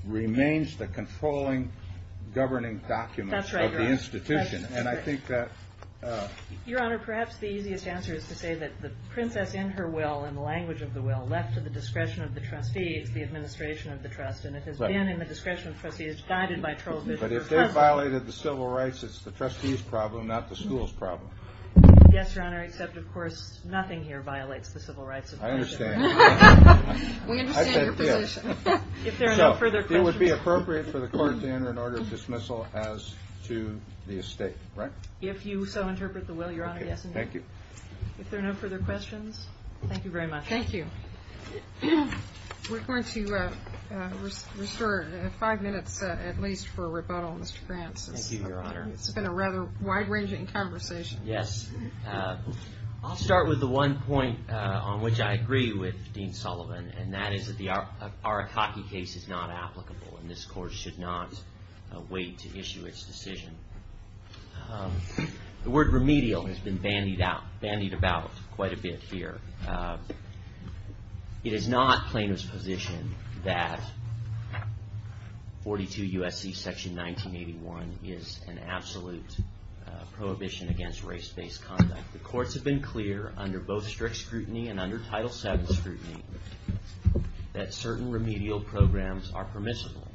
remains the controlling governing document of the institution. That's right, Your Honor. And I think that – Your Honor, perhaps the easiest answer is to say that the princess in her will and the language of the will left to the discretion of the trustees, the administration of the trust, and it has been in the discretion of trustees, guided by Charles Bishop. But if they violated the civil rights, it's the trustees' problem, not the school's problem. Yes, Your Honor, except, of course, nothing here violates the civil rights. I understand. We understand your position. So it would be appropriate for the court to enter an order of dismissal as to the estate, right? If you so interpret the will, Your Honor, yes and no. Thank you. If there are no further questions, thank you very much. Thank you. We're going to restore five minutes at least for rebuttal, Mr. France. Thank you, Your Honor. It's been a rather wide-ranging conversation. Yes. I'll start with the one point on which I agree with Dean Sullivan, and that is that the Arakaki case is not applicable, and this court should not wait to issue its decision. The word remedial has been bandied about quite a bit here. It is not plaintiff's position that 42 U.S.C. Section 1981 is an absolute prohibition against race-based conduct. The courts have been clear under both strict scrutiny and under Title VII scrutiny that certain remedial programs are permissible.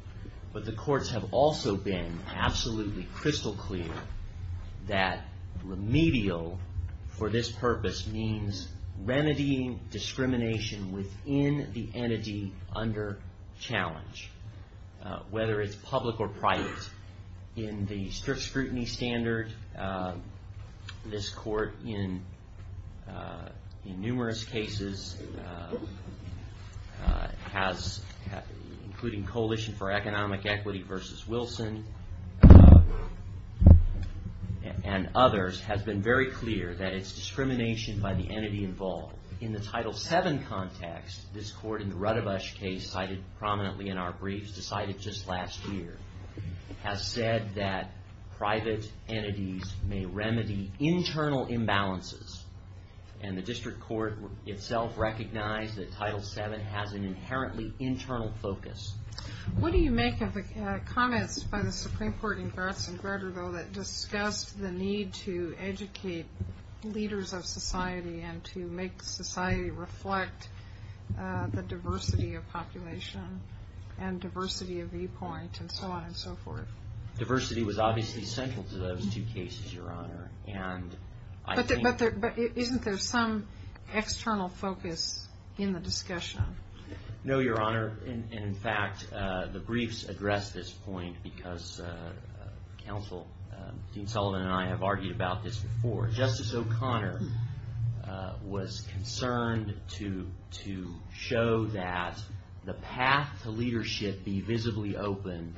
But the courts have also been absolutely crystal clear that remedial for this purpose means remedying discrimination within the entity under challenge, whether it's public or private. In the strict scrutiny standard, this court, in numerous cases, including Coalition for Economic Equity v. Wilson and others, has been very clear that it's discrimination by the entity involved. In the Title VII context, this court in the Rudabush case, cited prominently in our briefs, decided just last year, has said that private entities may remedy internal imbalances, and the district court itself recognized that Title VII has an inherently internal focus. What do you make of the comments by the Supreme Court in Gretzengrader, though, that discussed the need to educate leaders of society and to make society reflect the diversity of population and diversity of viewpoint and so on and so forth? Diversity was obviously central to those two cases, Your Honor. But isn't there some external focus in the discussion? No, Your Honor. In fact, the briefs address this point because Counsel Dean Sullivan and I have argued about this before. Justice O'Connor was concerned to show that the path to leadership be visibly open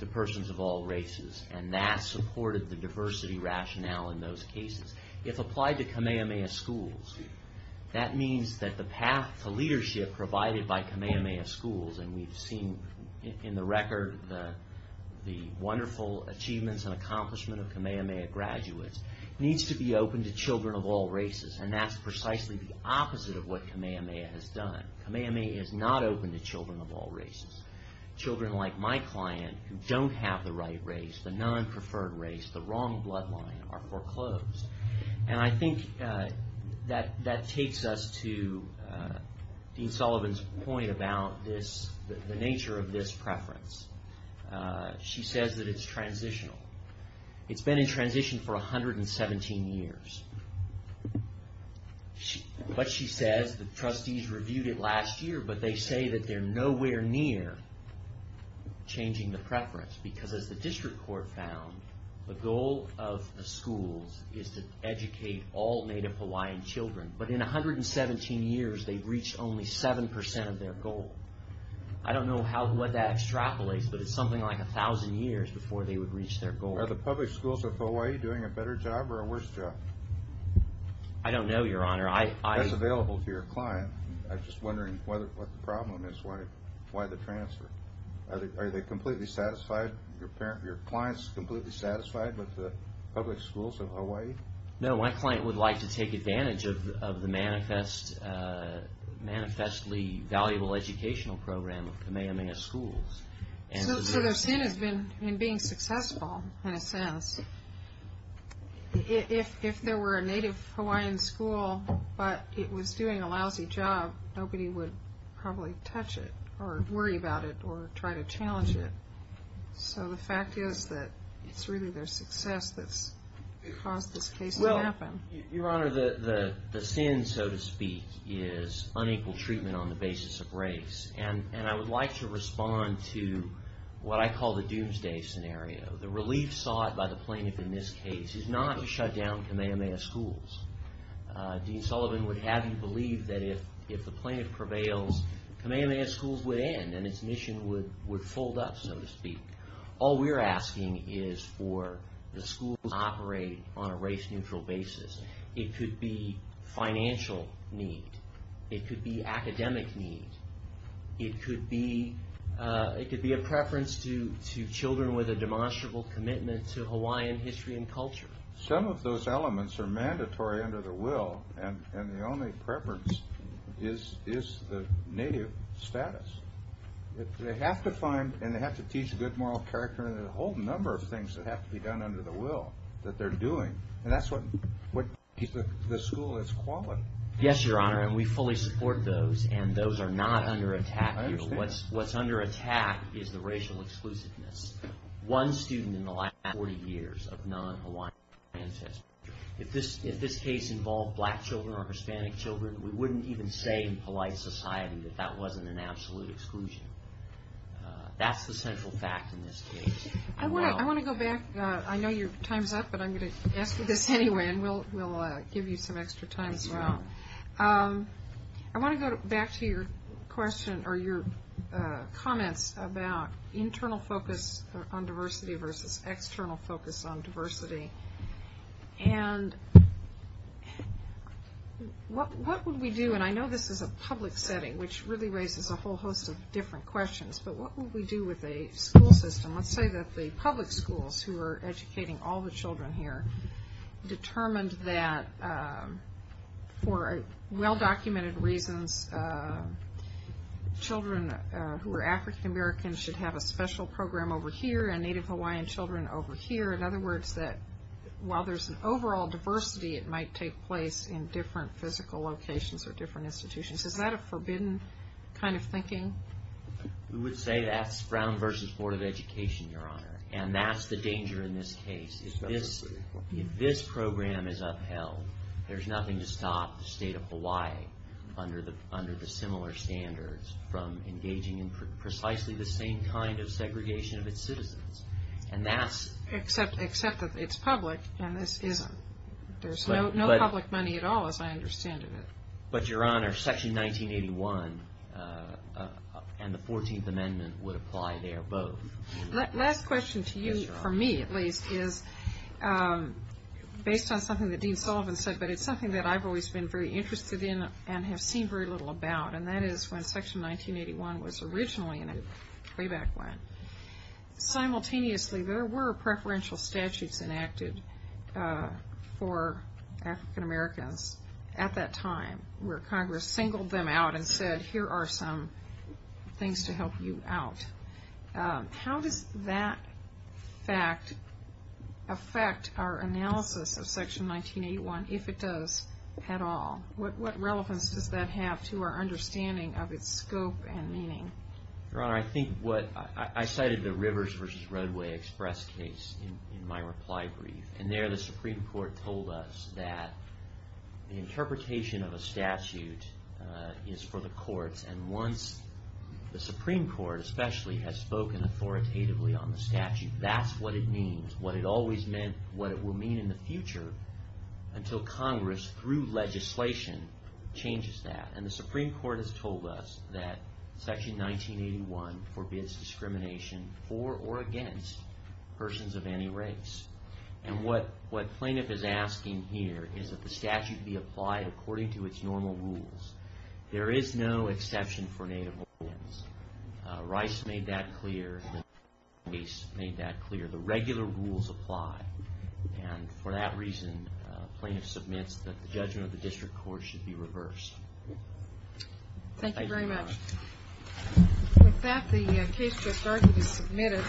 to persons of all races, and that supported the diversity rationale in those cases. If applied to Kamehameha schools, that means that the path to leadership provided by Kamehameha schools, and we've seen in the record the wonderful achievements and accomplishments of Kamehameha graduates, needs to be open to children of all races, and that's precisely the opposite of what Kamehameha has done. Kamehameha is not open to children of all races. Children like my client who don't have the right race, the non-preferred race, the wrong bloodline, are foreclosed. And I think that takes us to Dean Sullivan's point about the nature of this preference. She says that it's transitional. It's been in transition for 117 years. But she says the trustees reviewed it last year, but they say that they're nowhere near changing the preference because as the district court found, the goal of the schools is to educate all native Hawaiian children. But in 117 years, they've reached only 7% of their goal. I don't know what that extrapolates, but it's something like 1,000 years before they would reach their goal. Are the public schools of Hawaii doing a better job or a worse job? I don't know, Your Honor. That's available to your client. I'm just wondering what the problem is, why the transfer. Are they completely satisfied? Are your clients completely satisfied with the public schools of Hawaii? No, my client would like to take advantage of the manifestly valuable educational program of Kamehameha Schools. If there were a native Hawaiian school, but it was doing a lousy job, nobody would probably touch it or worry about it or try to challenge it. So the fact is that it's really their success that's caused this case to happen. Well, Your Honor, the sin, so to speak, is unequal treatment on the basis of race. And I would like to respond to what I call the doomsday scenario. The relief sought by the plaintiff in this case is not to shut down Kamehameha Schools. Dean Sullivan would have you believe that if the plaintiff prevails, Kamehameha Schools would end and its mission would fold up, so to speak. All we're asking is for the schools to operate on a race-neutral basis. It could be financial need. It could be academic need. It could be a preference to children with a demonstrable commitment to Hawaiian history and culture. Some of those elements are mandatory under the will, and the only preference is the native status. They have to find and they have to teach good moral character and a whole number of things that have to be done under the will that they're doing. And that's what keeps the school its quality. Yes, Your Honor, and we fully support those, and those are not under attack here. What's under attack is the racial exclusiveness. One student in the last 40 years of non-Hawaiian ancestry. If this case involved black children or Hispanic children, we wouldn't even say in polite society that that wasn't an absolute exclusion. That's the central fact in this case. I want to go back. I know your time's up, but I'm going to ask you this anyway, and we'll give you some extra time as well. I want to go back to your question or your comments about internal focus on diversity versus external focus on diversity. And what would we do, and I know this is a public setting, which really raises a whole host of different questions, but what would we do with a school system? Let's say that the public schools who are educating all the children here determined that for well-documented reasons, children who are African-American should have a special program over here and Native Hawaiian children over here. In other words, that while there's an overall diversity, it might take place in different physical locations or different institutions. Is that a forbidden kind of thinking? We would say that's Brown versus Board of Education, Your Honor, and that's the danger in this case. If this program is upheld, there's nothing to stop the state of Hawaii under the similar standards from engaging in precisely the same kind of segregation of its citizens. Except that it's public, and there's no public money at all, as I understand it. But, Your Honor, Section 1981 and the 14th Amendment would apply there both. Last question to you, for me at least, is based on something that Dean Sullivan said, but it's something that I've always been very interested in and have seen very little about, and that is when Section 1981 was originally enacted, way back when, simultaneously there were preferential statutes enacted for African-Americans at that time, where Congress singled them out and said, here are some things to help you out. How does that fact affect our analysis of Section 1981, if it does at all? What relevance does that have to our understanding of its scope and meaning? Your Honor, I cited the Rivers v. Roadway Express case in my reply brief, and there the Supreme Court told us that the interpretation of a statute is for the courts, and once the Supreme Court, especially, has spoken authoritatively on the statute, that's what it means, what it always meant, what it will mean in the future, until Congress, through legislation, changes that. And the Supreme Court has told us that Section 1981 forbids discrimination for or against persons of any race. And what plaintiff is asking here is that the statute be applied according to its normal rules. There is no exception for Native Americans. Rice made that clear, the case made that clear, the regular rules apply, and for that reason, plaintiff submits that the judgment of the district court should be reversed. Thank you very much. With that, the case gets started as submitted.